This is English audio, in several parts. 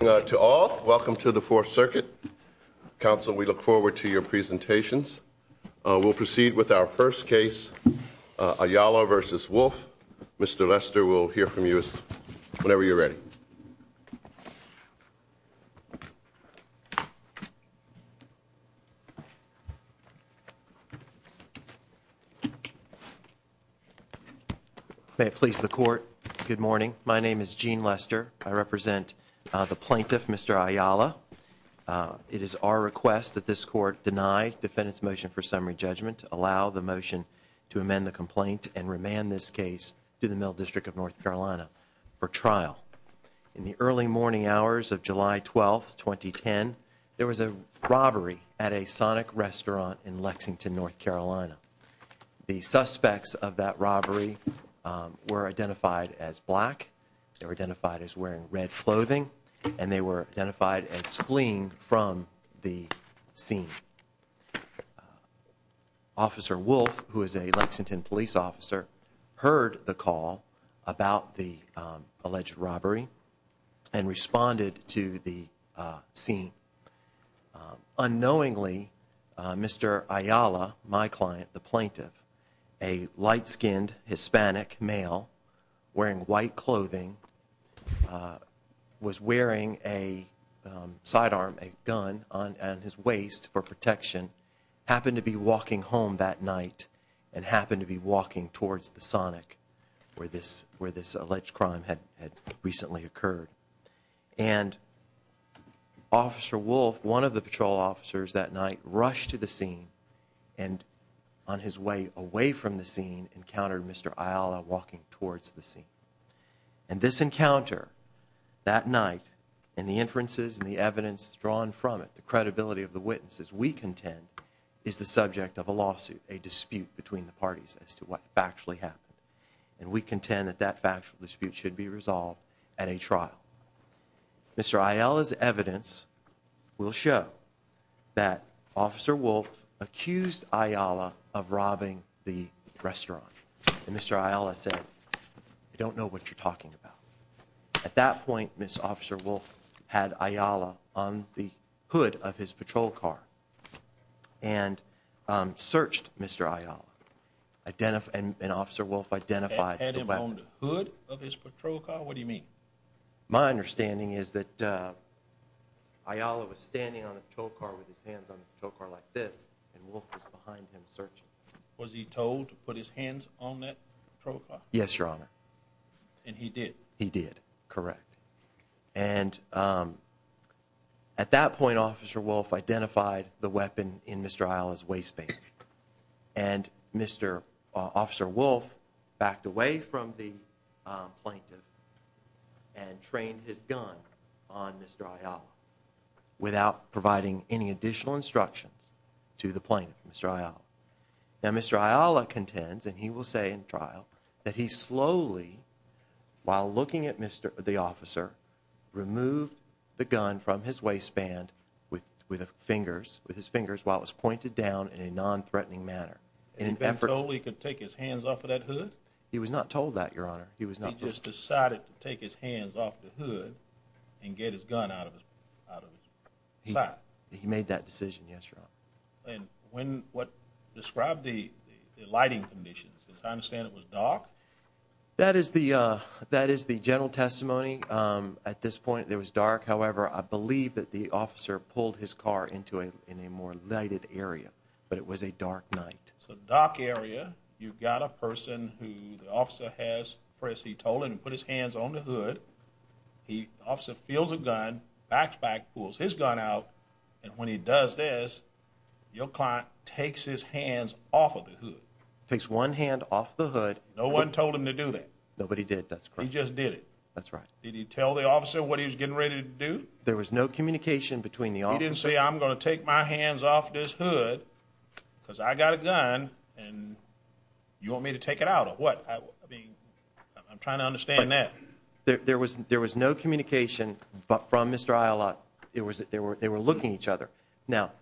Welcome to the Fourth Circuit. Council, we look forward to your presentations. We'll proceed with our first case, Ayala v. Wolfe. Mr. Lester, we'll hear from you whenever you're ready. May it please the Court, good morning. My name is Gene Lester. I represent the plaintiff, Mr. Ayala. It is our request that this Court deny the defendant's motion for summary judgment, allow the motion to amend the complaint, and remand this case to the Middle District of North Carolina for trial. In the early morning hours of July 12, 2010, there was a robbery at a Sonic restaurant in Lexington, North Carolina. The suspects of that robbery were identified as black, they were identified as wearing red clothing, and they were identified as fleeing from the scene. Officer Wolfe, who is a Lexington police officer, heard the call about the alleged robbery and responded to the scene. Unknowingly, Mr. Ayala, my client, the plaintiff, a light-skinned Hispanic male wearing white clothing, was wearing a sidearm, a gun on his waist for protection, happened to be walking home that night and happened to be walking towards the Sonic where this alleged crime had recently occurred. And Officer Wolfe, one of the patrol officers that night, rushed to the scene and on his way away from the scene encountered Mr. Ayala walking towards the scene. And this encounter that night and the inferences and the evidence drawn from it, the credibility of the witnesses, we contend is the subject of a lawsuit, a dispute between the parties as to what factually happened. And we contend that that factual dispute should be resolved at a trial. Mr. Ayala's evidence will show that Officer Wolfe accused Ayala of robbing the restaurant. And Mr. Ayala said, I don't know what you're talking about. At that point, Ms. Officer Wolfe had Ayala on the hood of his patrol car and searched Mr. Ayala. And Officer Wolfe identified the weapon. Had him on the hood of his patrol car? What do you mean? My understanding is that Ayala was standing on a tow car with his hands on the tow car like this and Wolfe was behind him searching. Was he told to put his hands on that patrol car? Yes, Your Honor. And he did? He did, correct. And at that point, Officer Wolfe identified the weapon in Mr. Ayala's waistband. And Mr. Officer Wolfe backed away from the plaintiff and trained his gun on Mr. Ayala without providing any additional instructions to the plaintiff, Mr. Ayala. Now Mr. Ayala contends, and he will say in trial, that he slowly, while looking at the officer, removed the gun from his waistband with his fingers while it was pointed down in a non-threatening manner. And he was told he could take his hands off of that hood? He was not told that, Your Honor. He just decided to take his hands off the hood and get his gun out of his side. And what described the lighting conditions, as I understand it, was dark? That is the general testimony. At this point, it was dark. However, I believe that the officer pulled his car into a more lighted area, but it was a dark night. So dark area. You've got a person who the officer has, as he told him, put his hands on the hood. The officer feels a gun, backs back, pulls his gun out, and when he does this, your client takes his hands off of the hood. Takes one hand off the hood. No one told him to do that? Nobody did, that's correct. He just did it? That's right. Did he tell the officer what he was getting ready to do? There was no communication between the officers. He didn't say, I'm going to take my hands off this hood because I got a gun and you want me to take it out or what? I'm trying to understand that. There was no communication from Mr. Islay. They were looking at each other. Now,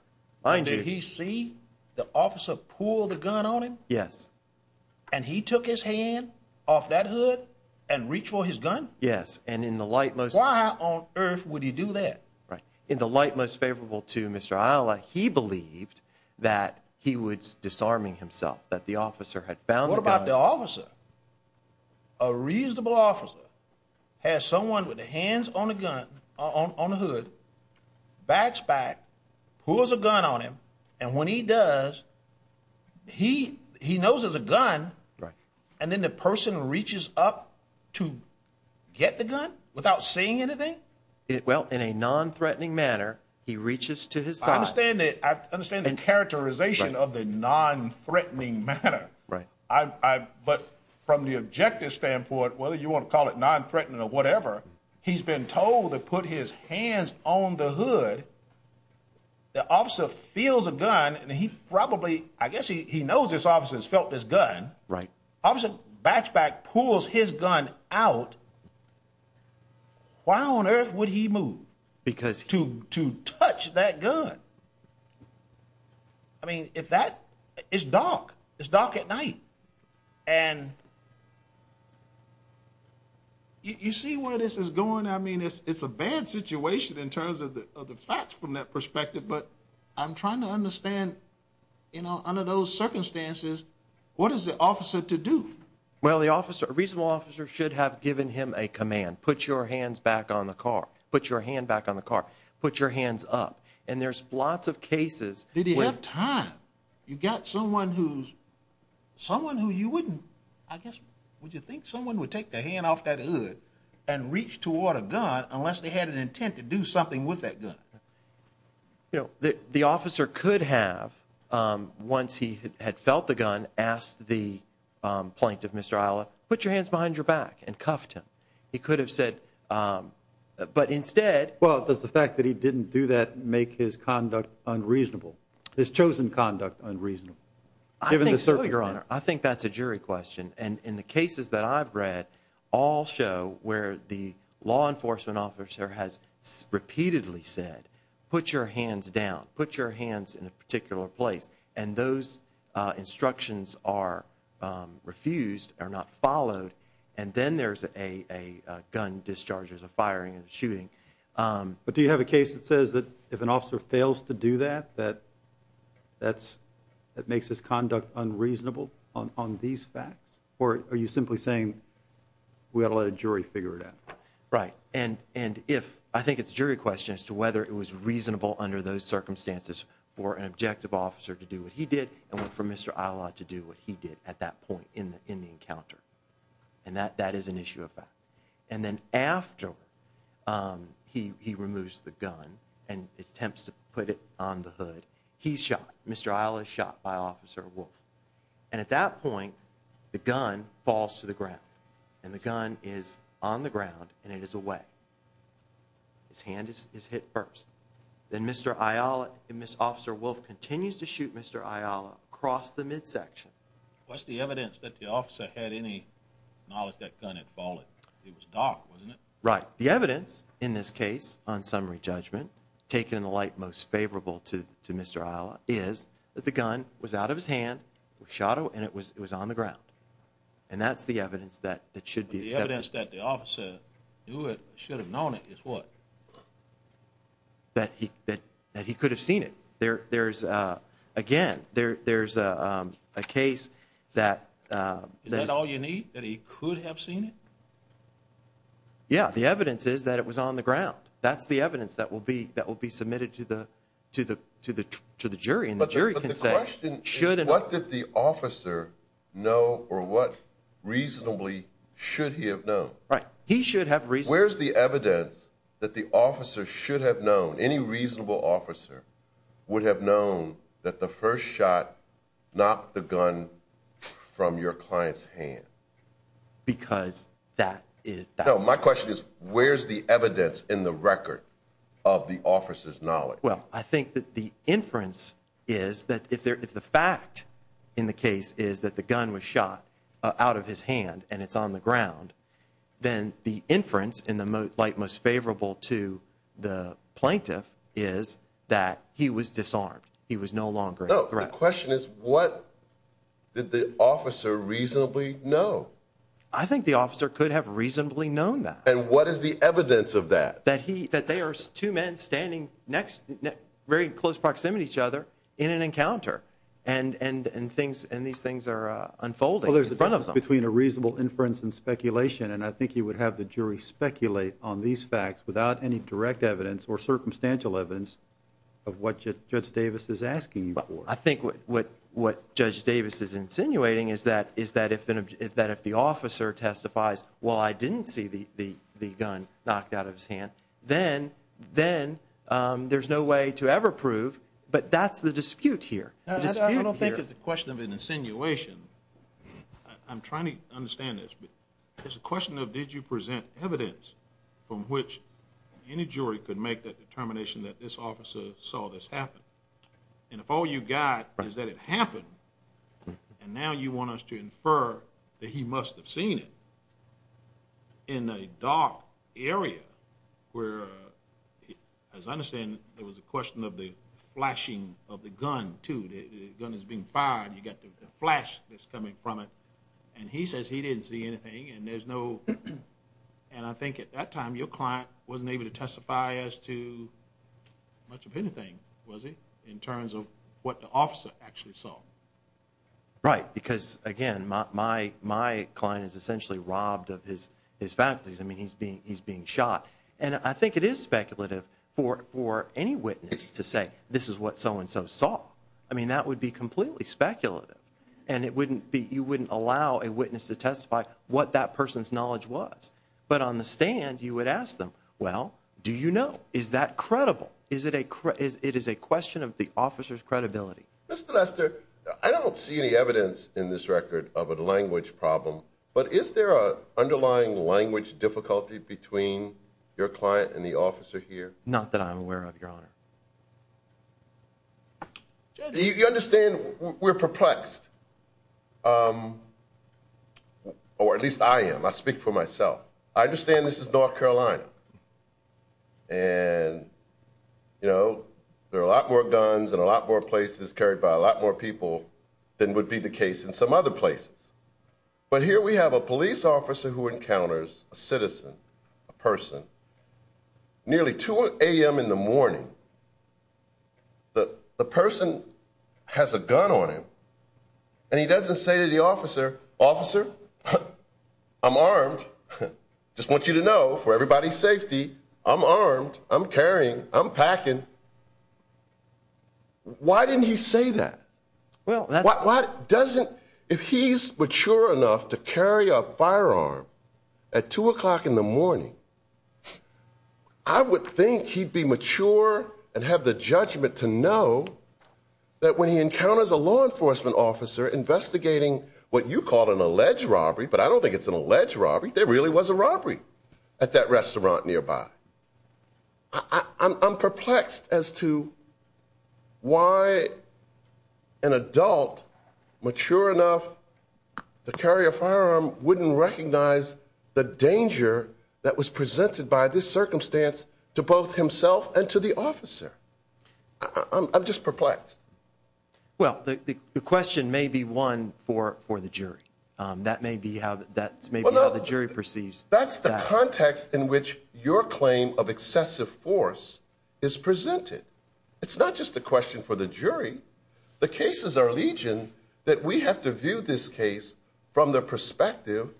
mind you. Did he see the officer pull the gun on him? Yes. And he took his hand off that hood and reached for his gun? Yes, and in the light most... Why on earth would he do that? In the light most favorable to Mr. Islay, he believed that he was disarming himself, that the officer had found the gun. What about the officer? A reasonable officer has someone with their hands on the hood, backs back, pulls a gun on him, and when he does, he knows it's a gun, and then the person reaches up to get the gun without seeing anything? Well, in a non-threatening manner, he reaches to his side. I understand the characterization of the non-threatening manner. Right. But from the objective standpoint, whether you want to call it non-threatening or whatever, he's been told to put his hands on the hood. The officer feels a gun, and he probably, I guess he knows this officer has felt this gun. Right. Officer backs back, pulls his gun out. Why on earth would he move to touch that gun? I mean, if that is dark, it's dark at night, and you see where this is going. I mean, it's a bad situation in terms of the facts from that perspective, but I'm trying to understand, you know, under those circumstances, what is the officer to do? Well, the officer, a reasonable officer should have given him a command. Put your hands back on the car. Put your hand back on the car. Put your hands up. And there's lots of cases. Did he have time? You've got someone who's, someone who you wouldn't, I guess, would you think someone would take their hand off that hood and reach toward a gun unless they had an intent to do something with that gun? You know, the officer could have, once he had felt the gun, asked the plaintiff, Mr. Isla, put your hands behind your back and cuffed him. He could have said, but instead. Well, does the fact that he didn't do that make his conduct unreasonable, his chosen conduct unreasonable, given the circumstances? I think so, Your Honor. I think that's a jury question. And the cases that I've read all show where the law enforcement officer has repeatedly said, put your hands down. Put your hands in a particular place. And those instructions are refused, are not followed. And then there's a gun discharge, there's a firing and a shooting. But do you have a case that says that if an officer fails to do that, that makes his conduct unreasonable on these facts? Or are you simply saying we ought to let a jury figure it out? Right. I think it's a jury question as to whether it was reasonable under those circumstances for an objective officer to do what he did and for Mr. Isla to do what he did at that point in the encounter. And that is an issue of fact. And then after he removes the gun and attempts to put it on the hood, he's shot. Mr. Isla is shot by Officer Wolf. And at that point, the gun falls to the ground. And the gun is on the ground and it is away. His hand is hit first. Then Mr. Isla and Ms. Officer Wolf continues to shoot Mr. Isla across the midsection. What's the evidence that the officer had any knowledge that gun had fallen? It was dark, wasn't it? Right. The evidence in this case on summary judgment, taken in the light most favorable to Mr. Isla, is that the gun was out of his hand, was shot, and it was on the ground. And that's the evidence that should be accepted. The evidence that the officer knew it, should have known it, is what? That he could have seen it. There's, again, there's a case that... Is that all you need, that he could have seen it? Yeah, the evidence is that it was on the ground. That's the evidence that will be submitted to the jury. But the question is, what did the officer know, or what reasonably should he have known? Right. He should have reasonably... Where's the evidence that the officer should have known, any reasonable officer, would have known that the first shot knocked the gun from your client's hand? Because that is... No, my question is, where's the evidence in the record of the officer's knowledge? Well, I think that the inference is that if the fact in the case is that the gun was shot out of his hand, and it's on the ground, then the inference in the light most favorable to the plaintiff is that he was disarmed. He was no longer a threat. No, the question is, what did the officer reasonably know? I think the officer could have reasonably known that. And what is the evidence of that? That they are two men standing very close proximity to each other in an encounter, and these things are unfolding in front of them. Well, there's a difference between a reasonable inference and speculation, and I think you would have the jury speculate on these facts without any direct evidence or circumstantial evidence of what Judge Davis is asking you for. I think what Judge Davis is insinuating is that if the officer testifies, well, I didn't see the gun knocked out of his hand, then there's no way to ever prove, but that's the dispute here. I don't think it's a question of an insinuation. I'm trying to understand this. It's a question of did you present evidence from which any jury could make that determination that this officer saw this happen? And if all you've got is that it happened, and now you want us to infer that he must have seen it in a dark area where, as I understand, there was a question of the flashing of the gun, too. The gun is being fired, and you've got the flash that's coming from it, and he says he didn't see anything and there's no... And I think at that time your client wasn't able to testify as to much of anything, was he, in terms of what the officer actually saw. Right, because, again, my client is essentially robbed of his faculties. I mean, he's being shot. And I think it is speculative for any witness to say this is what so-and-so saw. I mean, that would be completely speculative, and you wouldn't allow a witness to testify what that person's knowledge was. But on the stand, you would ask them, well, do you know? Is that credible? It is a question of the officer's credibility. Mr. Lester, I don't see any evidence in this record of a language problem, but is there an underlying language difficulty between your client and the officer here? Not that I'm aware of, Your Honor. You understand we're perplexed, or at least I am. I speak for myself. I understand this is North Carolina, and, you know, there are a lot more guns and a lot more places carried by a lot more people than would be the case in some other places. But here we have a police officer who encounters a citizen, a person, nearly 2 a.m. in the morning. The person has a gun on him, and he doesn't say to the officer, Officer, I'm armed, just want you to know for everybody's safety, I'm armed, I'm carrying, I'm packing. Why didn't he say that? Why doesn't, if he's mature enough to carry a firearm at 2 o'clock in the morning, I would think he'd be mature and have the judgment to know that when he encounters a law enforcement officer investigating what you call an alleged robbery, but I don't think it's an alleged robbery, there really was a robbery at that restaurant nearby. I'm perplexed as to why an adult, mature enough to carry a firearm, wouldn't recognize the danger that was presented by this circumstance to both himself and to the officer. I'm just perplexed. Well, the question may be one for the jury. That may be how the jury perceives that. That's the context in which your claim of excessive force is presented. It's not just a question for the jury. The cases are legion that we have to view this case from the perspective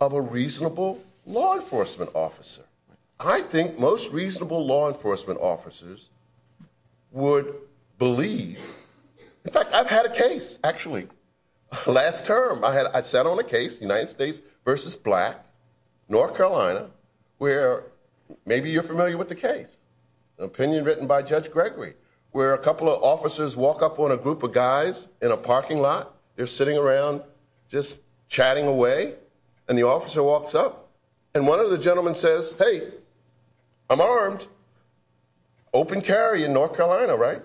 of a reasonable law enforcement officer. I think most reasonable law enforcement officers would believe. In fact, I've had a case, actually, last term. I sat on a case, United States v. Black, North Carolina, where maybe you're familiar with the case. An opinion written by Judge Gregory, where a couple of officers walk up on a group of guys in a parking lot. They're sitting around just chatting away, and the officer walks up, and one of the gentlemen says, Hey, I'm armed. Open carry in North Carolina, right?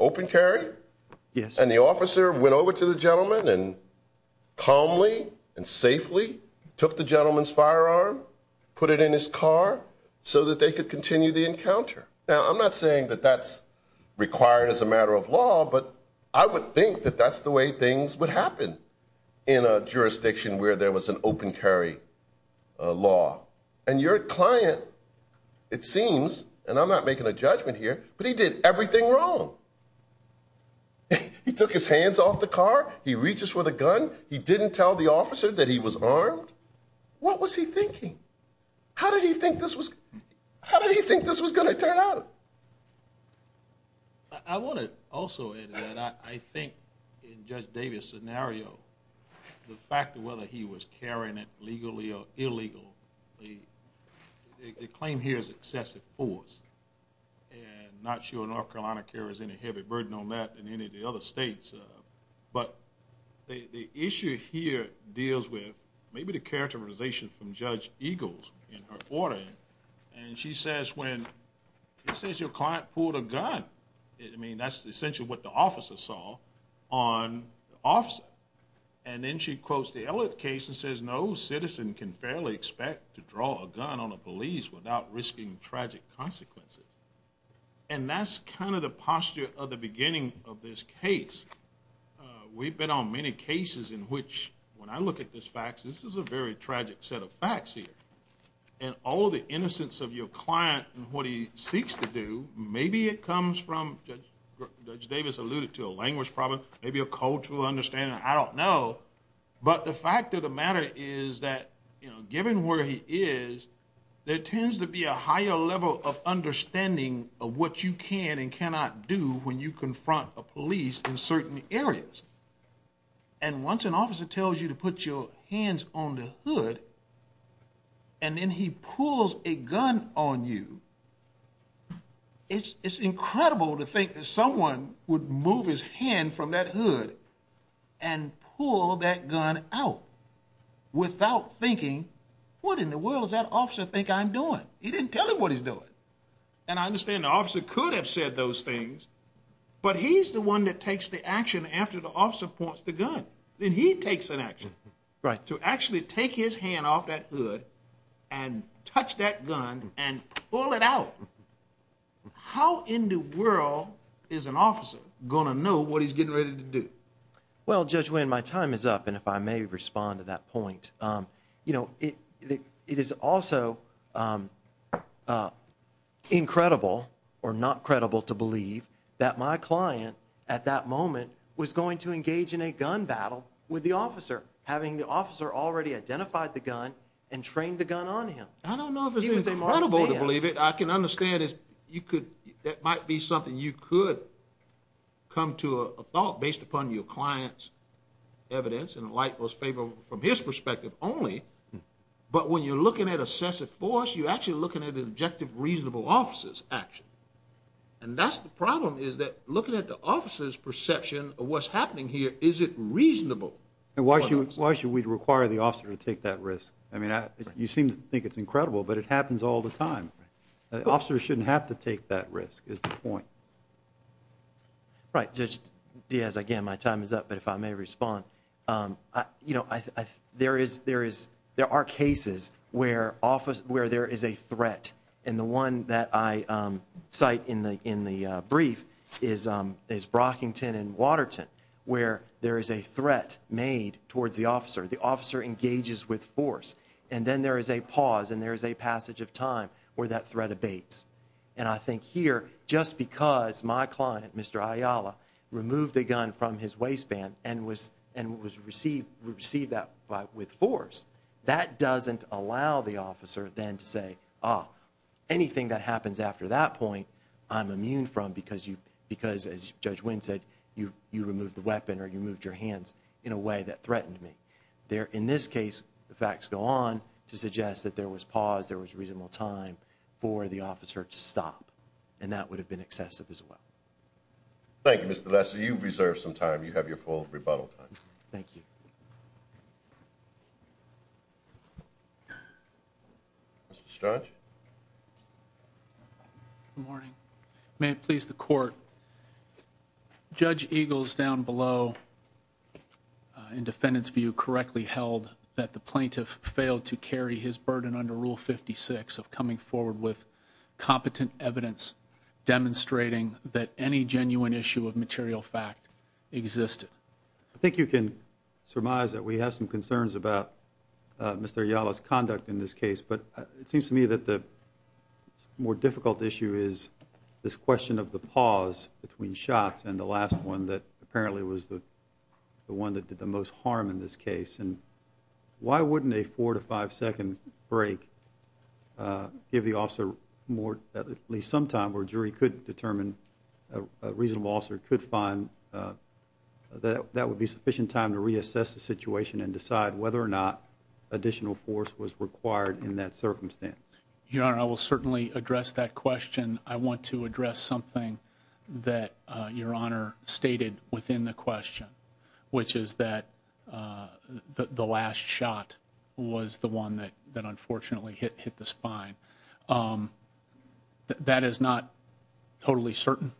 Open carry? Yes. And the officer went over to the gentleman and calmly and safely took the gentleman's firearm, put it in his car so that they could continue the encounter. Now, I'm not saying that that's required as a matter of law, but I would think that that's the way things would happen in a jurisdiction where there was an open carry law. And your client, it seems, and I'm not making a judgment here, but he did everything wrong. He took his hands off the car. He reaches for the gun. He didn't tell the officer that he was armed. What was he thinking? How did he think this was going to turn out? I want to also add to that. I think in Judge Davis' scenario, the fact of whether he was carrying it legally or illegally, the claim here is excessive force. And I'm not sure North Carolina carries any heavy burden on that than any of the other states. But the issue here deals with maybe the characterization from Judge Eagles in her ordering. And she says when, she says your client pulled a gun. I mean, that's essentially what the officer saw on the officer. And then she quotes the Elliott case and says, no citizen can fairly expect to draw a gun on a police without risking tragic consequences. And that's kind of the posture of the beginning of this case. We've been on many cases in which, when I look at this fact, this is a very tragic set of facts here. And all of the innocence of your client and what he seeks to do, maybe it comes from, Judge Davis alluded to a language problem, maybe a cultural understanding, I don't know. But the fact of the matter is that, given where he is, there tends to be a higher level of understanding of what you can and cannot do when you confront a police in certain areas. And once an officer tells you to put your hands on the hood and then he pulls a gun on you, it's incredible to think that someone would move his hand from that hood and pull that gun out without thinking, what in the world does that officer think I'm doing? He didn't tell him what he's doing. And I understand the officer could have said those things, but he's the one that takes the action after the officer points the gun. Then he takes an action to actually take his hand off that hood and touch that gun and pull it out. How in the world is an officer going to know what he's getting ready to do? Well, Judge Winn, my time is up, and if I may respond to that point. It is also incredible or not credible to believe that my client at that moment was going to engage in a gun battle with the officer, having the officer already identified the gun and trained the gun on him. I don't know if it's incredible to believe it. I can understand that might be something you could come to a thought based upon your client's evidence and like most people from his perspective only. But when you're looking at a sense of force, you're actually looking at an objective reasonable officer's action. And that's the problem is that looking at the officer's perception of what's happening here, is it reasonable? And why should we require the officer to take that risk? I mean, you seem to think it's incredible, but it happens all the time. Officers shouldn't have to take that risk is the point. Right. Judge Diaz, again, my time is up. But if I may respond, you know, there are cases where there is a threat. And the one that I cite in the brief is Brockington and Waterton where there is a threat made towards the officer. The officer engages with force. And then there is a pause and there is a passage of time where that threat abates. And I think here, just because my client, Mr. Ayala, removed a gun from his waistband and received that with force, that doesn't allow the officer then to say, oh, anything that happens after that point I'm immune from because, as Judge Winn said, you removed the weapon or you moved your hands in a way that threatened me. In this case, the facts go on to suggest that there was pause, there was reasonable time for the officer to stop. And that would have been excessive as well. Thank you, Mr. Lesser. You've reserved some time. You have your full rebuttal time. Thank you. Mr. Strudge? Good morning. May it please the Court, Judge Eagles down below, in defendant's view, correctly held that the plaintiff failed to carry his burden under Rule 56 of coming forward with competent evidence demonstrating that any genuine issue of material fact existed. I think you can surmise that we have some concerns about Mr. Ayala's conduct in this case. But it seems to me that the more difficult issue is this question of the pause between shots and the last one that apparently was the one that did the most harm in this case. And why wouldn't a four- to five-second break give the officer at least some time where a jury could determine, a reasonable officer could find that that would be sufficient time to reassess the situation and decide whether or not additional force was required in that circumstance? Your Honor, I will certainly address that question. I want to address something that Your Honor stated within the question, which is that the last shot was the one that unfortunately hit the spine. That is not totally certain,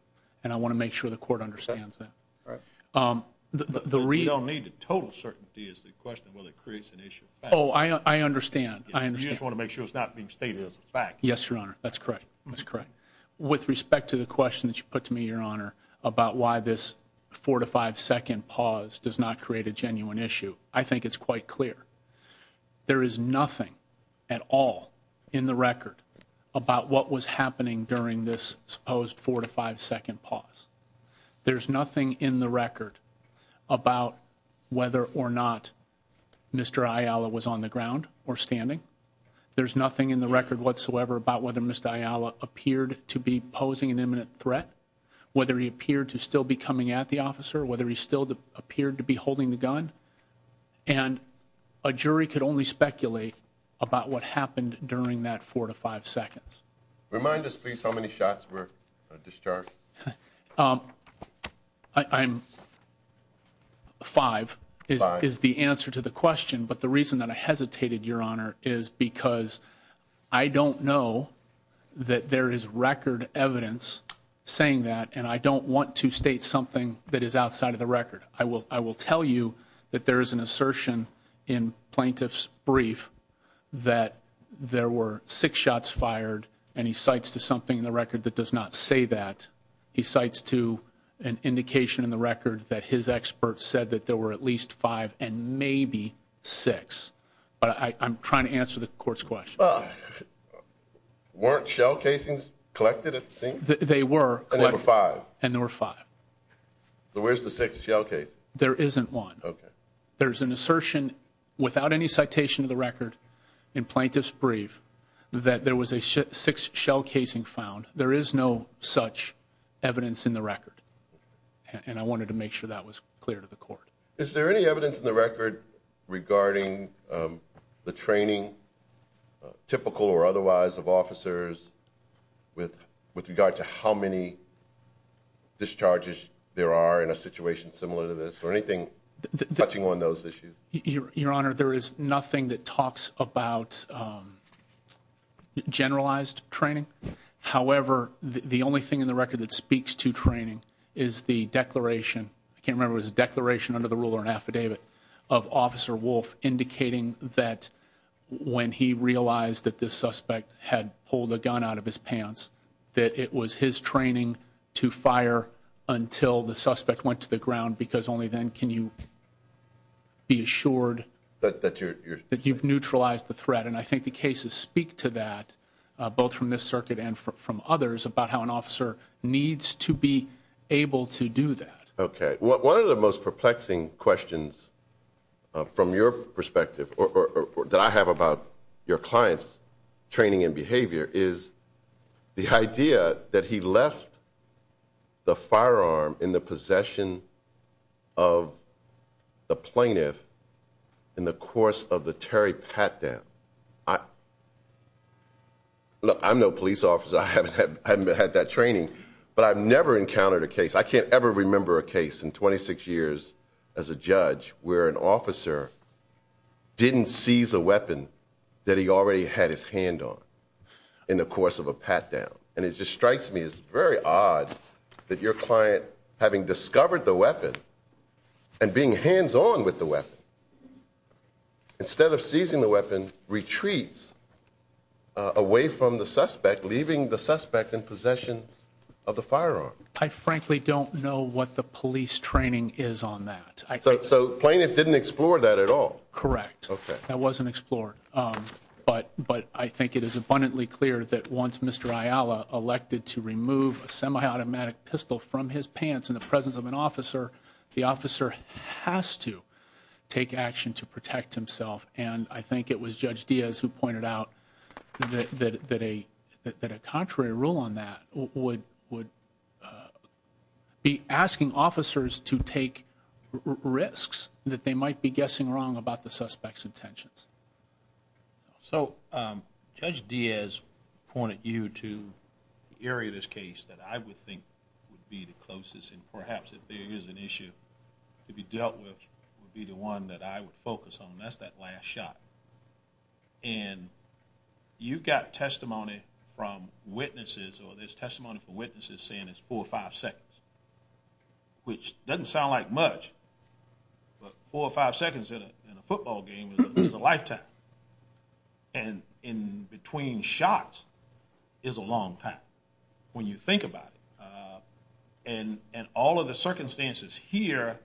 and I want to make sure the Court understands that. We don't need the total certainty as to the question of whether it creates an issue of fact. Oh, I understand. I understand. You just want to make sure it's not being stated as a fact. Yes, Your Honor. That's correct. That's correct. With respect to the question that you put to me, Your Honor, about why this four-to-five-second pause does not create a genuine issue, I think it's quite clear. There is nothing at all in the record about what was happening during this supposed four-to-five-second pause. There's nothing in the record about whether or not Mr. Ayala was on the ground or standing. There's nothing in the record whatsoever about whether Mr. Ayala appeared to be posing an imminent threat, whether he appeared to still be coming at the officer, whether he still appeared to be holding the gun. And a jury could only speculate about what happened during that four-to-five seconds. Remind us, please, how many shots were discharged. Five is the answer to the question. But the reason that I hesitated, Your Honor, is because I don't know that there is record evidence saying that, and I don't want to state something that is outside of the record. I will tell you that there is an assertion in plaintiff's brief that there were six shots fired, and he cites to something in the record that does not say that. He cites to an indication in the record that his expert said that there were at least five and maybe six. But I'm trying to answer the court's question. Weren't shell casings collected at the scene? They were. And there were five. And there were five. So where's the sixth shell case? There isn't one. Okay. There's an assertion without any citation of the record in plaintiff's brief that there was a sixth shell casing found. There is no such evidence in the record, and I wanted to make sure that was clear to the court. Is there any evidence in the record regarding the training, typical or otherwise, of officers with regard to how many discharges there are in a situation similar to this, or anything touching on those issues? Your Honor, there is nothing that talks about generalized training. However, the only thing in the record that speaks to training is the declaration, I can't remember if it was a declaration under the rule or an affidavit, of Officer Wolf indicating that when he realized that this suspect had pulled a gun out of his pants, that it was his training to fire until the suspect went to the ground, because only then can you be assured that you've neutralized the threat. And I think the cases speak to that, both from this circuit and from others, about how an officer needs to be able to do that. Okay. One of the most perplexing questions from your perspective, or that I have about your client's training and behavior, is the idea that he left the firearm in the possession of the plaintiff in the course of the Terry Pat death. Look, I'm no police officer, I haven't had that training, but I've never encountered a case, I can't ever remember a case in 26 years as a judge, where an officer didn't seize a weapon that he already had his hand on in the course of a pat down. And it just strikes me as very odd that your client, having discovered the weapon, and being hands-on with the weapon, instead of seizing the weapon, retreats away from the suspect, leaving the suspect in possession of the firearm. I frankly don't know what the police training is on that. So the plaintiff didn't explore that at all? Correct. Okay. That wasn't explored. But I think it is abundantly clear that once Mr. Ayala elected to remove a semi-automatic pistol from his pants in the presence of an officer, the officer has to take action to protect himself. And I think it was Judge Diaz who pointed out that a contrary rule on that would be asking officers to take risks that they might be guessing wrong about the suspect's intentions. So Judge Diaz pointed you to the area of this case that I would think would be the closest, and perhaps if there is an issue to be dealt with, would be the one that I would focus on. That's that last shot. And you've got testimony from witnesses or there's testimony from witnesses saying it's four or five seconds, which doesn't sound like much, but four or five seconds in a football game is a lifetime. And in between shots is a long time when you think about it. In all of the circumstances here,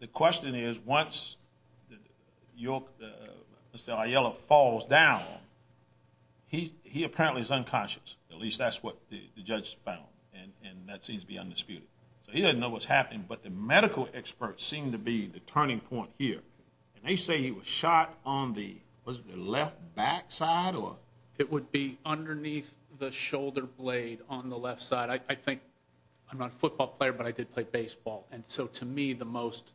the question is once Mr. Ayala falls down, he apparently is unconscious. At least that's what the judge found, and that seems to be undisputed. So he doesn't know what's happening, but the medical experts seem to be the turning point here. And they say he was shot on the left backside? It would be underneath the shoulder blade on the left side. I think I'm not a football player, but I did play baseball. And so to me the most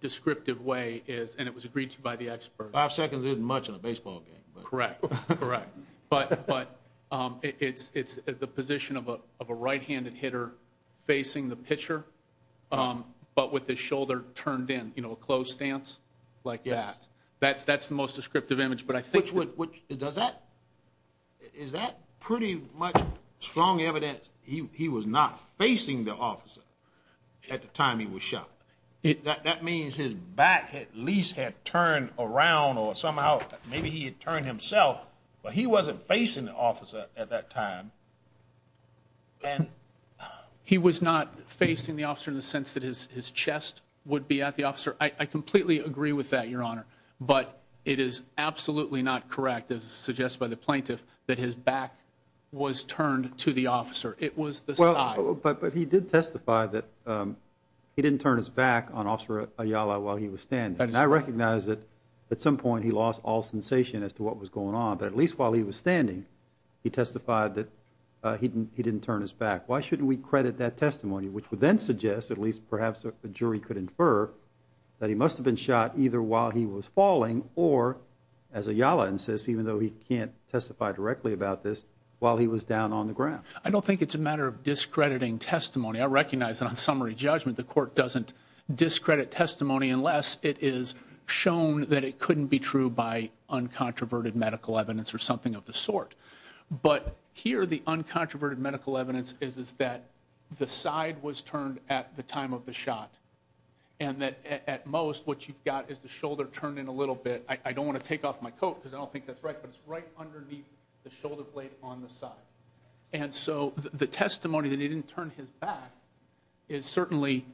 descriptive way is, and it was agreed to by the experts. Five seconds isn't much in a baseball game. Correct, correct. But it's the position of a right-handed hitter facing the pitcher, but with his shoulder turned in, you know, a closed stance like that. That's the most descriptive image. Is that pretty much strong evidence he was not facing the officer at the time he was shot? That means his back at least had turned around or somehow maybe he had turned himself, but he wasn't facing the officer at that time. He was not facing the officer in the sense that his chest would be at the officer. I completely agree with that, Your Honor. But it is absolutely not correct, as suggested by the plaintiff, that his back was turned to the officer. It was the side. But he did testify that he didn't turn his back on Officer Ayala while he was standing. And I recognize that at some point he lost all sensation as to what was going on, but at least while he was standing he testified that he didn't turn his back. Why shouldn't we credit that testimony, which would then suggest, at least perhaps a jury could infer, that he must have been shot either while he was falling or, as Ayala insists, even though he can't testify directly about this, while he was down on the ground. I don't think it's a matter of discrediting testimony. I recognize that on summary judgment the court doesn't discredit testimony unless it is shown that it couldn't be true by uncontroverted medical evidence or something of the sort. But here the uncontroverted medical evidence is that the side was turned at the time of the shot and that at most what you've got is the shoulder turned in a little bit. I don't want to take off my coat because I don't think that's right, but it's right underneath the shoulder blade on the side. And so the testimony that he didn't turn his back is certainly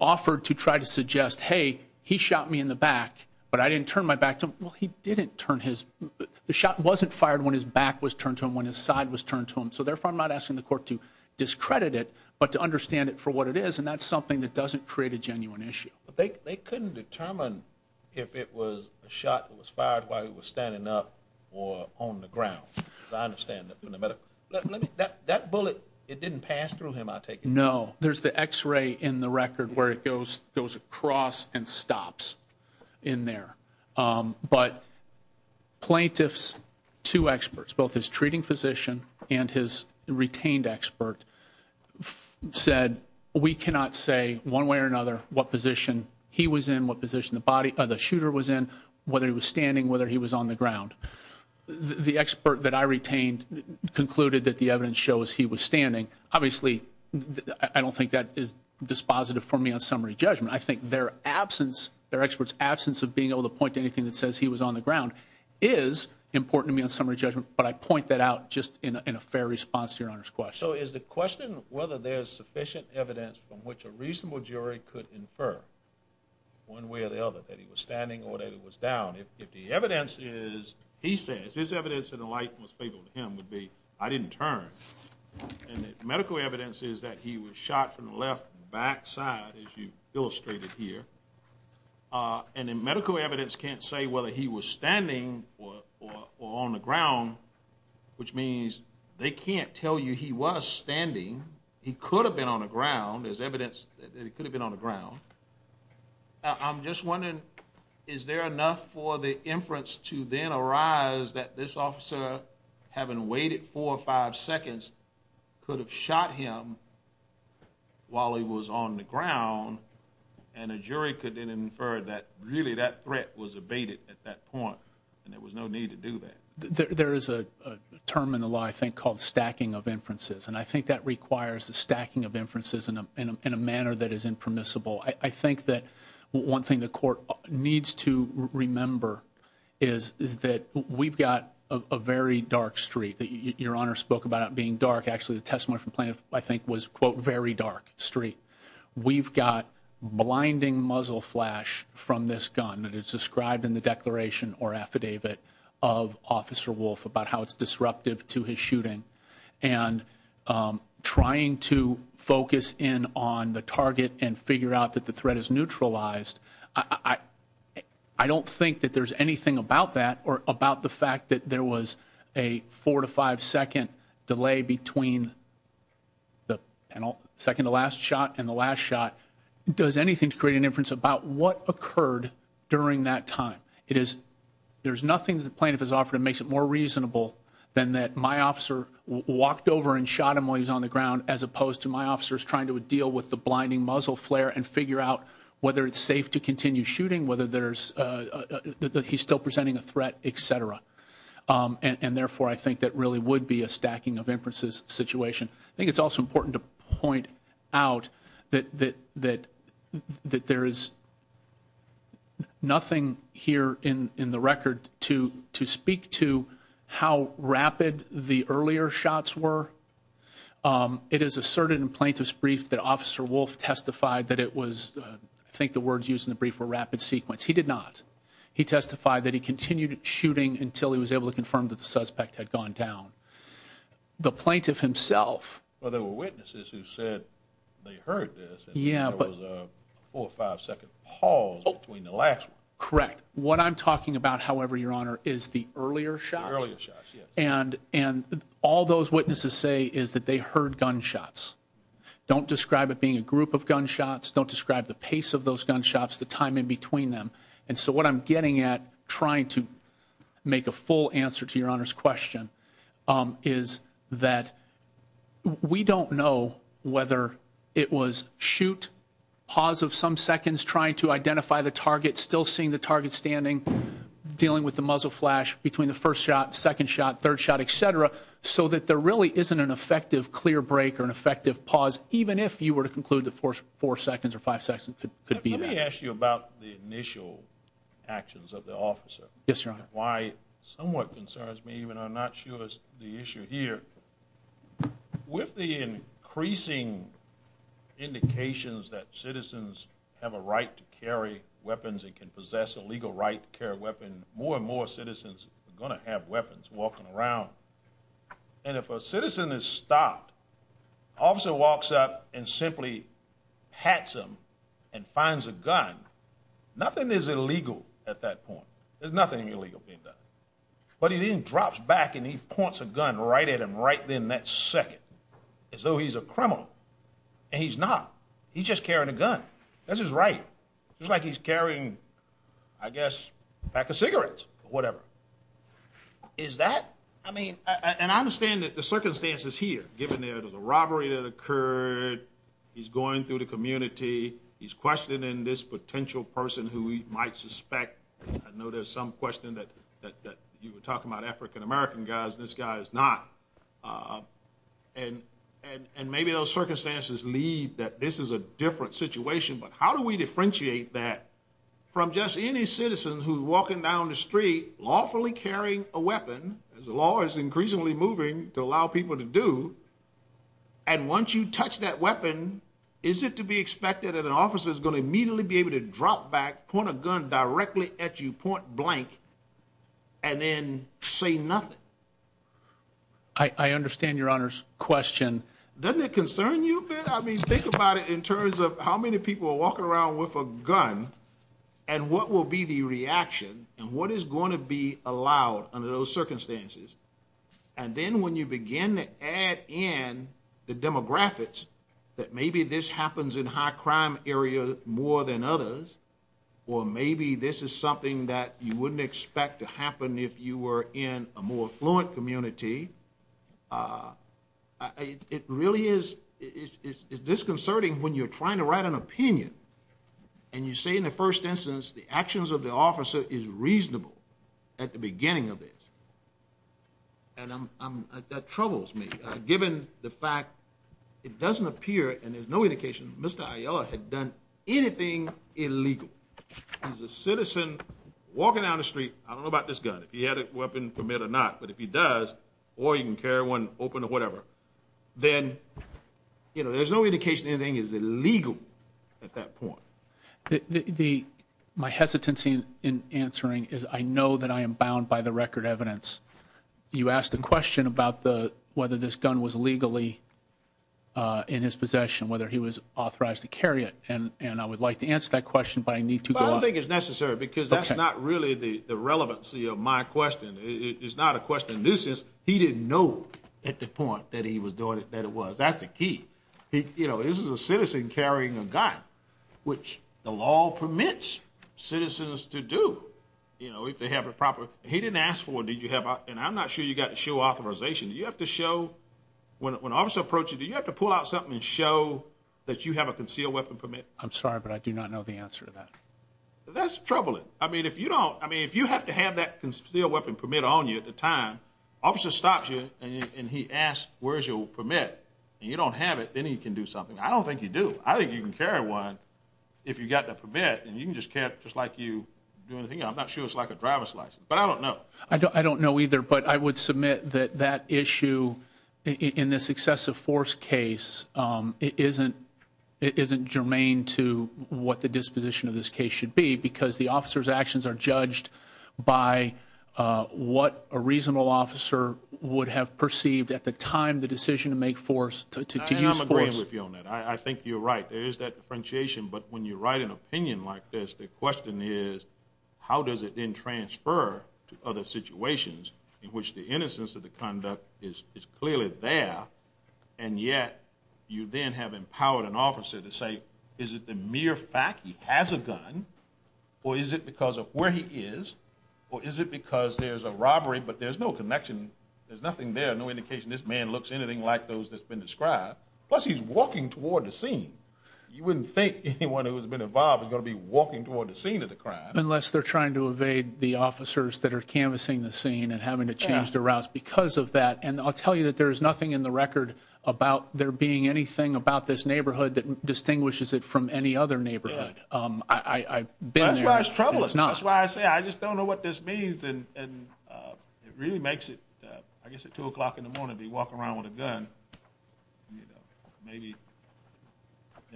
offered to try to suggest, hey, he shot me in the back, but I didn't turn my back to him. Well, he didn't turn his – the shot wasn't fired when his back was turned to him, when his side was turned to him. So therefore I'm not asking the court to discredit it but to understand it for what it is, and that's something that doesn't create a genuine issue. But they couldn't determine if it was a shot that was fired while he was standing up or on the ground. I understand that from the medical – that bullet, it didn't pass through him, I take it? No. There's the X-ray in the record where it goes across and stops in there. But plaintiffs, two experts, both his treating physician and his retained expert, said we cannot say one way or another what position he was in, what position the body – the shooter was in, whether he was standing, whether he was on the ground. The expert that I retained concluded that the evidence shows he was standing. Obviously, I don't think that is dispositive for me on summary judgment. I think their absence, their expert's absence of being able to point to anything that says he was on the ground is important to me on summary judgment, but I point that out just in a fair response to Your Honor's question. So is the question whether there's sufficient evidence from which a reasonable jury could infer one way or the other that he was standing or that he was down, if the evidence is – he says his evidence in the light most favorable to him would be I didn't turn and the medical evidence is that he was shot from the left backside, as you've illustrated here, and the medical evidence can't say whether he was standing or on the ground, which means they can't tell you he was standing. He could have been on the ground. There's evidence that he could have been on the ground. I'm just wondering, is there enough for the inference to then arise that this officer, having waited four or five seconds, could have shot him while he was on the ground and a jury could then infer that really that threat was abated at that point and there was no need to do that? There is a term in the law, I think, called stacking of inferences, and I think that requires the stacking of inferences in a manner that is impermissible. I think that one thing the court needs to remember is that we've got a very dark street. Your Honor spoke about it being dark. Actually, the testimony from plaintiff, I think, was, quote, very dark street. We've got blinding muzzle flash from this gun that is described in the declaration or affidavit of Officer Wolf about how it's disruptive to his shooting and trying to focus in on the target and figure out that the threat is neutralized. I don't think that there's anything about that or about the fact that there was a four to five second delay between the second to last shot and the last shot. It does anything to create an inference about what occurred during that time. There's nothing that the plaintiff has offered that makes it more reasonable than that my officer walked over and shot him while he was on the ground as opposed to my officers trying to deal with the blinding muzzle flare and figure out whether it's safe to continue shooting, whether he's still presenting a threat, et cetera. And therefore, I think that really would be a stacking of inferences situation. I think it's also important to point out that there is nothing here in the record to speak to how rapid the earlier shots were. It is asserted in plaintiff's brief that Officer Wolf testified that it was, I think the words used in the brief were rapid sequence. He did not. He testified that he continued shooting until he was able to confirm that the suspect had gone down. The plaintiff himself. Well, there were witnesses who said they heard this, and there was a four or five second pause between the last one. Correct. What I'm talking about, however, Your Honor, is the earlier shots. The earlier shots, yes. And all those witnesses say is that they heard gunshots. Don't describe it being a group of gunshots. Don't describe the pace of those gunshots, the time in between them. And so what I'm getting at, trying to make a full answer to Your Honor's question, is that we don't know whether it was shoot, pause of some seconds, trying to identify the target, still seeing the target standing, dealing with the muzzle flash between the first shot, second shot, third shot, et cetera, so that there really isn't an effective clear break or an effective pause, even if you were to conclude that four seconds or five seconds could be that. Let me ask you about the initial actions of the officer. Yes, Your Honor. Why it somewhat concerns me, even though I'm not sure it's the issue here. With the increasing indications that citizens have a right to carry weapons and can possess a legal right to carry a weapon, more and more citizens are going to have weapons walking around. And if a citizen is stopped, officer walks up and simply pats him and finds a gun, nothing is illegal at that point. There's nothing illegal being done. But he then drops back and he points a gun right at him right then, that second, as though he's a criminal. And he's not. He's just carrying a gun. That's his right. Just like he's carrying, I guess, a pack of cigarettes or whatever. Is that? I mean, and I understand that the circumstances here, given there was a robbery that occurred, he's going through the community, he's questioning this potential person who he might suspect. I know there's some question that you were talking about African-American guys and this guy is not. And maybe those circumstances lead that this is a different situation. But how do we differentiate that from just any citizen who's walking down the street, lawfully carrying a weapon, as the law is increasingly moving to allow people to do, and once you touch that weapon, is it to be expected that an officer is going to immediately be able to drop back, point a gun directly at you, point blank, and then say nothing? I understand your Honor's question. Doesn't it concern you a bit? I mean, think about it in terms of how many people are walking around with a gun and what will be the reaction and what is going to be allowed under those circumstances. And then when you begin to add in the demographics, that maybe this happens in a high-crime area more than others, or maybe this is something that you wouldn't expect to happen if you were in a more affluent community, it really is disconcerting when you're trying to write an opinion and you say in the first instance the actions of the officer is reasonable at the beginning of this. And that troubles me, given the fact it doesn't appear, and there's no indication, Mr. Ayala had done anything illegal. As a citizen walking down the street, I don't know about this gun, if he had a weapon permit or not, but if he does, or he can carry one open or whatever, then there's no indication anything is illegal at that point. My hesitancy in answering is I know that I am bound by the record evidence. You asked a question about whether this gun was legally in his possession, whether he was authorized to carry it, and I would like to answer that question, but I need to go on. Well, I don't think it's necessary because that's not really the relevancy of my question. It's not a question. This is he didn't know at the point that he was doing it that it was. That's the key. This is a citizen carrying a gun, which the law permits citizens to do if they have it proper. He didn't ask for it. Did you have it? And I'm not sure you got to show authorization. Do you have to show when an officer approaches, do you have to pull out something and show that you have a concealed weapon permit? I'm sorry, but I do not know the answer to that. That's troubling. I mean, if you don't, I mean, if you have to have that concealed weapon permit on you at the time, officer stops you and he asks, where's your permit? And you don't have it, then he can do something. I don't think you do. I think you can carry one if you got that permit, and you can just carry it just like you do anything else. I'm not sure it's like a driver's license, but I don't know. I don't know either, but I would submit that that issue in this excessive force case isn't germane to what the disposition of this case should be because the officer's actions are judged by what a reasonable officer would have perceived at the time the decision to make force, to use force. And I'm agreeing with you on that. I think you're right. There is that differentiation, but when you write an opinion like this, the question is how does it then transfer to other situations in which the innocence of the conduct is clearly there, and yet you then have empowered an officer to say, is it the mere fact he has a gun, or is it because of where he is, or is it because there's a robbery, but there's no connection, there's nothing there, no indication this man looks anything like those that's been described, plus he's walking toward the scene. You wouldn't think anyone who has been involved is going to be walking toward the scene of the crime. Unless they're trying to evade the officers that are canvassing the scene and having to change their routes because of that. And I'll tell you that there is nothing in the record about there being anything about this neighborhood that distinguishes it from any other neighborhood. I've been there. That's why it's troubling. That's why I say I just don't know what this means. And it really makes it, I guess at 2 o'clock in the morning to be walking around with a gun.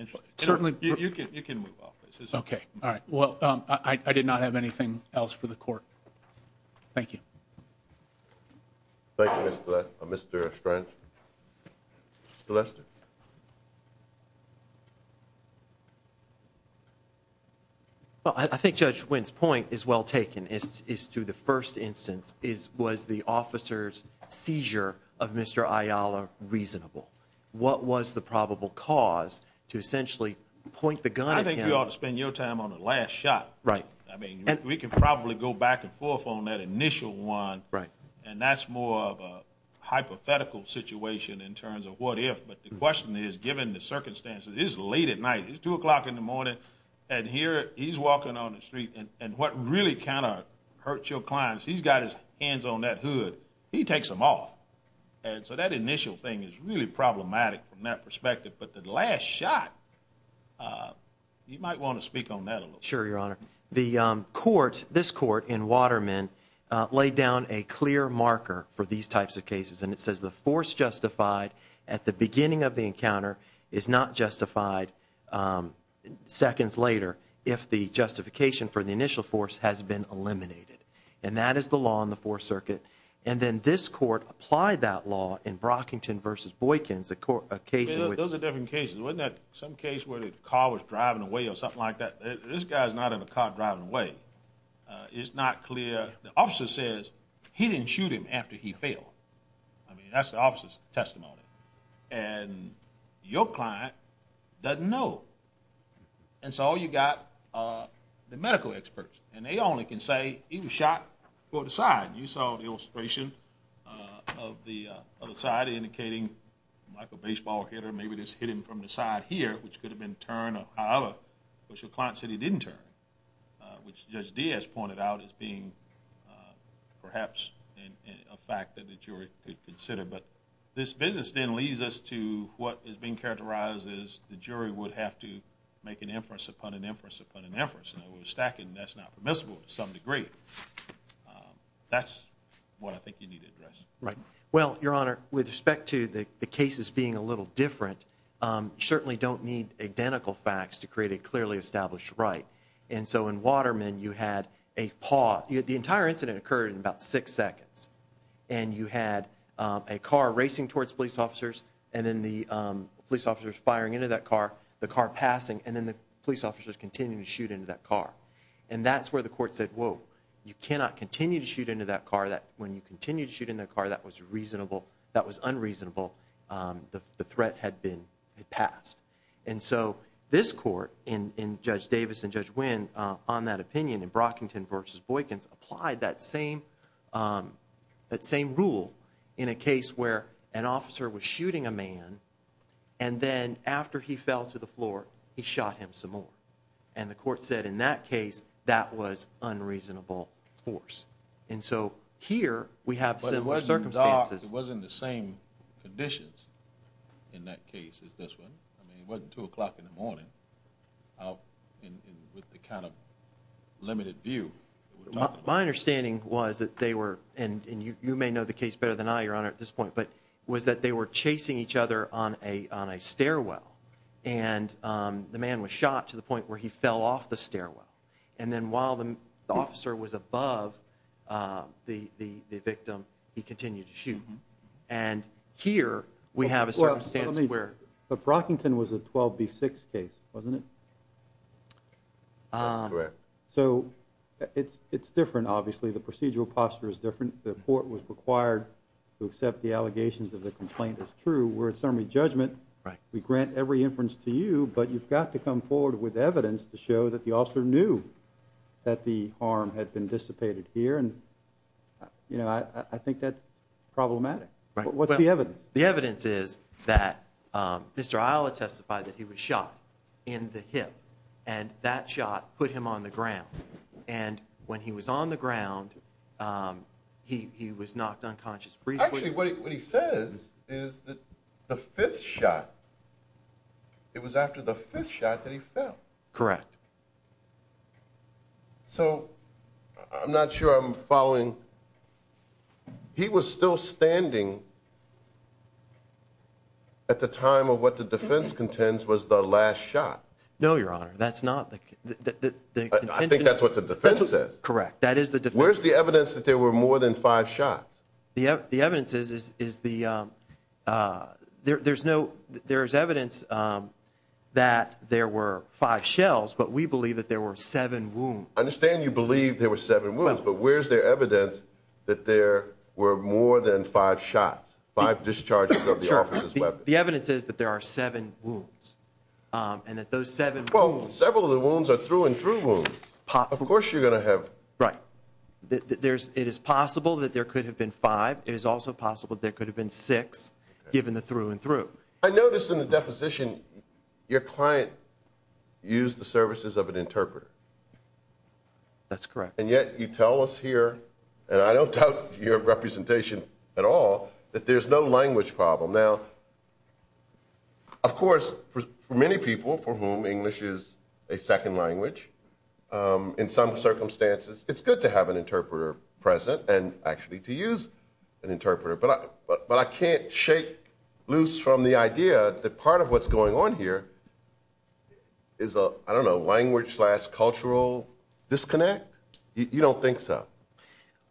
You can move off this. Okay. All right. Well, I did not have anything else for the Court. Thank you. Thank you, Mr. Strange. Mr. Lester. Well, I think Judge Wynn's point is well taken, is to the first instance, was the officer's seizure of Mr. Ayala reasonable? What was the probable cause to essentially point the gun at him? I think you ought to spend your time on the last shot. Right. I mean, we could probably go back and forth on that initial one. Right. And that's more of a hypothetical situation in terms of what if. But the question is, given the circumstances, it is late at night. It's 2 o'clock in the morning. And here he's walking on the street. And what really kind of hurts your clients, he's got his hands on that hood. He takes them off. And so that initial thing is really problematic from that perspective. But the last shot, you might want to speak on that a little bit. Sure, Your Honor. The court, this court in Waterman, laid down a clear marker for these types of cases. And it says the force justified at the beginning of the encounter is not justified seconds later if the justification for the initial force has been eliminated. And that is the law in the Fourth Circuit. And then this court applied that law in Brockington v. Boykins, a case in which. Those are different cases. Wasn't that some case where the car was driving away or something like that? This guy is not in a car driving away. It's not clear. The officer says he didn't shoot him after he fell. I mean, that's the officer's testimony. And your client doesn't know. And so all you've got are the medical experts. And they only can say he was shot from the side. You saw the illustration of the other side indicating like a baseball hit or maybe this hit him from the side here, which could have been turned or however. But your client said he didn't turn, which Judge Diaz pointed out as being perhaps a fact that the jury could consider. But this business then leads us to what is being characterized as the jury would have to make an inference upon an inference upon an inference. And we're stacking that's not permissible to some degree. That's what I think you need to address. Right. Well, Your Honor, with respect to the cases being a little different, you certainly don't need identical facts to create a clearly established right. And so in Waterman, you had a paw. The entire incident occurred in about six seconds. And you had a car racing towards police officers, and then the police officers firing into that car, the car passing, and then the police officers continuing to shoot into that car. And that's where the court said, whoa, you cannot continue to shoot into that car. When you continue to shoot into that car, that was reasonable. That was unreasonable. The threat had been passed. And so this court in Judge Davis and Judge Wynn on that opinion in Brockington v. Boykins applied that same rule in a case where an officer was shooting a man, and then after he fell to the floor, he shot him some more. And the court said in that case that was unreasonable force. And so here we have similar circumstances. It wasn't the same conditions in that case as this one. It wasn't 2 o'clock in the morning with the kind of limited view. My understanding was that they were, and you may know the case better than I, Your Honor, at this point, but was that they were chasing each other on a stairwell, and the man was shot to the point where he fell off the stairwell. And then while the officer was above the victim, he continued to shoot. And here we have a circumstance where But Brockington was a 12B6 case, wasn't it? That's correct. So it's different, obviously. The procedural posture is different. The court was required to accept the allegations of the complaint as true. We're at summary judgment. We grant every inference to you, but you've got to come forward with evidence to show that the officer knew that the harm had been dissipated here. And, you know, I think that's problematic. What's the evidence? The evidence is that Mr. Isla testified that he was shot in the hip, and that shot put him on the ground. And when he was on the ground, he was knocked unconscious briefly. Actually, what he says is that the fifth shot, it was after the fifth shot that he fell. Correct. So I'm not sure I'm following. He was still standing at the time of what the defense contends was the last shot. No, Your Honor. That's not the contention. I think that's what the defense says. Correct. That is the defense. Where's the evidence that there were more than five shots? The evidence is there's evidence that there were five shells, but we believe that there were seven wounds. I understand you believe there were seven wounds, but where's the evidence that there were more than five shots, five discharges of the officer's weapon? The evidence is that there are seven wounds, and that those seven wounds. Well, several of the wounds are through and through wounds. Of course you're going to have. Right. It is possible that there could have been five. It is also possible there could have been six, given the through and through. I notice in the deposition your client used the services of an interpreter. That's correct. And yet you tell us here, and I don't doubt your representation at all, that there's no language problem. Now, of course, for many people for whom English is a second language, in some circumstances it's good to have an interpreter present and actually to use an interpreter. But I can't shake loose from the idea that part of what's going on here is a, I don't know, language slash cultural disconnect? You don't think so?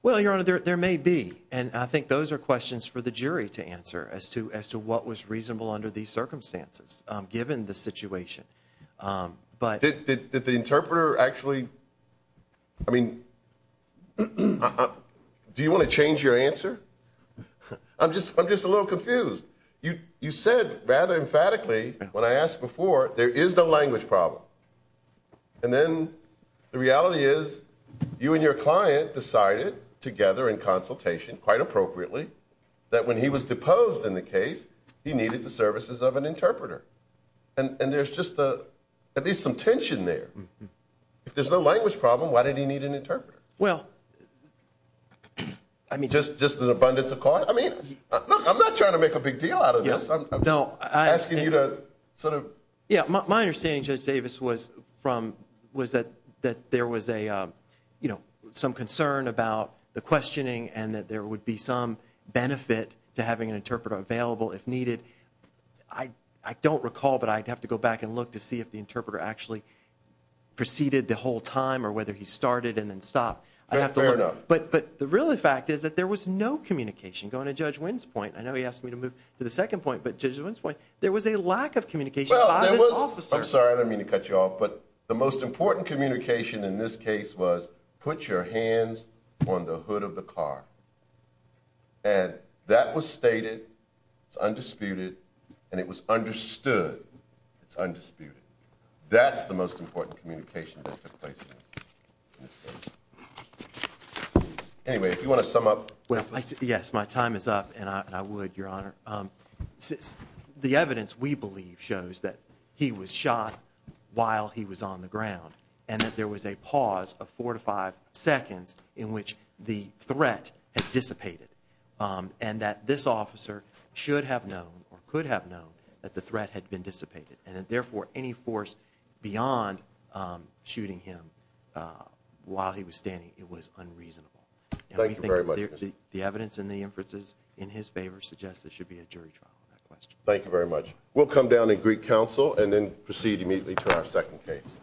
Well, Your Honor, there may be. And I think those are questions for the jury to answer as to what was reasonable under these circumstances, given the situation. Did the interpreter actually, I mean, do you want to change your answer? I'm just a little confused. You said rather emphatically when I asked before, there is no language problem. And then the reality is you and your client decided together in consultation, quite appropriately, that when he was deposed in the case, he needed the services of an interpreter. And there's just at least some tension there. If there's no language problem, why did he need an interpreter? Well, I mean. Just an abundance of cause? I mean, look, I'm not trying to make a big deal out of this. I'm asking you to sort of. Yeah, my understanding, Judge Davis, was that there was some concern about the questioning and that there would be some benefit to having an interpreter available if needed. I don't recall, but I'd have to go back and look to see if the interpreter actually preceded the whole time or whether he started and then stopped. Fair enough. But the real fact is that there was no communication. Going to Judge Wynn's point, I know he asked me to move to the second point, but Judge Wynn's point, there was a lack of communication. Well, there was. I'm sorry. I didn't mean to cut you off. But the most important communication in this case was, put your hands on the hood of the car. And that was stated. It's undisputed. And it was understood. It's undisputed. That's the most important communication that took place in this case. Anyway, if you want to sum up. Yes, my time is up, and I would, Your Honor. The evidence we believe shows that he was shot while he was on the ground and that there was a pause of four to five seconds in which the threat had dissipated and that this officer should have known or could have known that the threat had been dissipated and that, therefore, any force beyond shooting him while he was standing, it was unreasonable. Thank you very much. The evidence in the inferences in his favor suggests there should be a jury trial on that question. Thank you very much. We'll come down to Greek Council and then proceed immediately to our second case.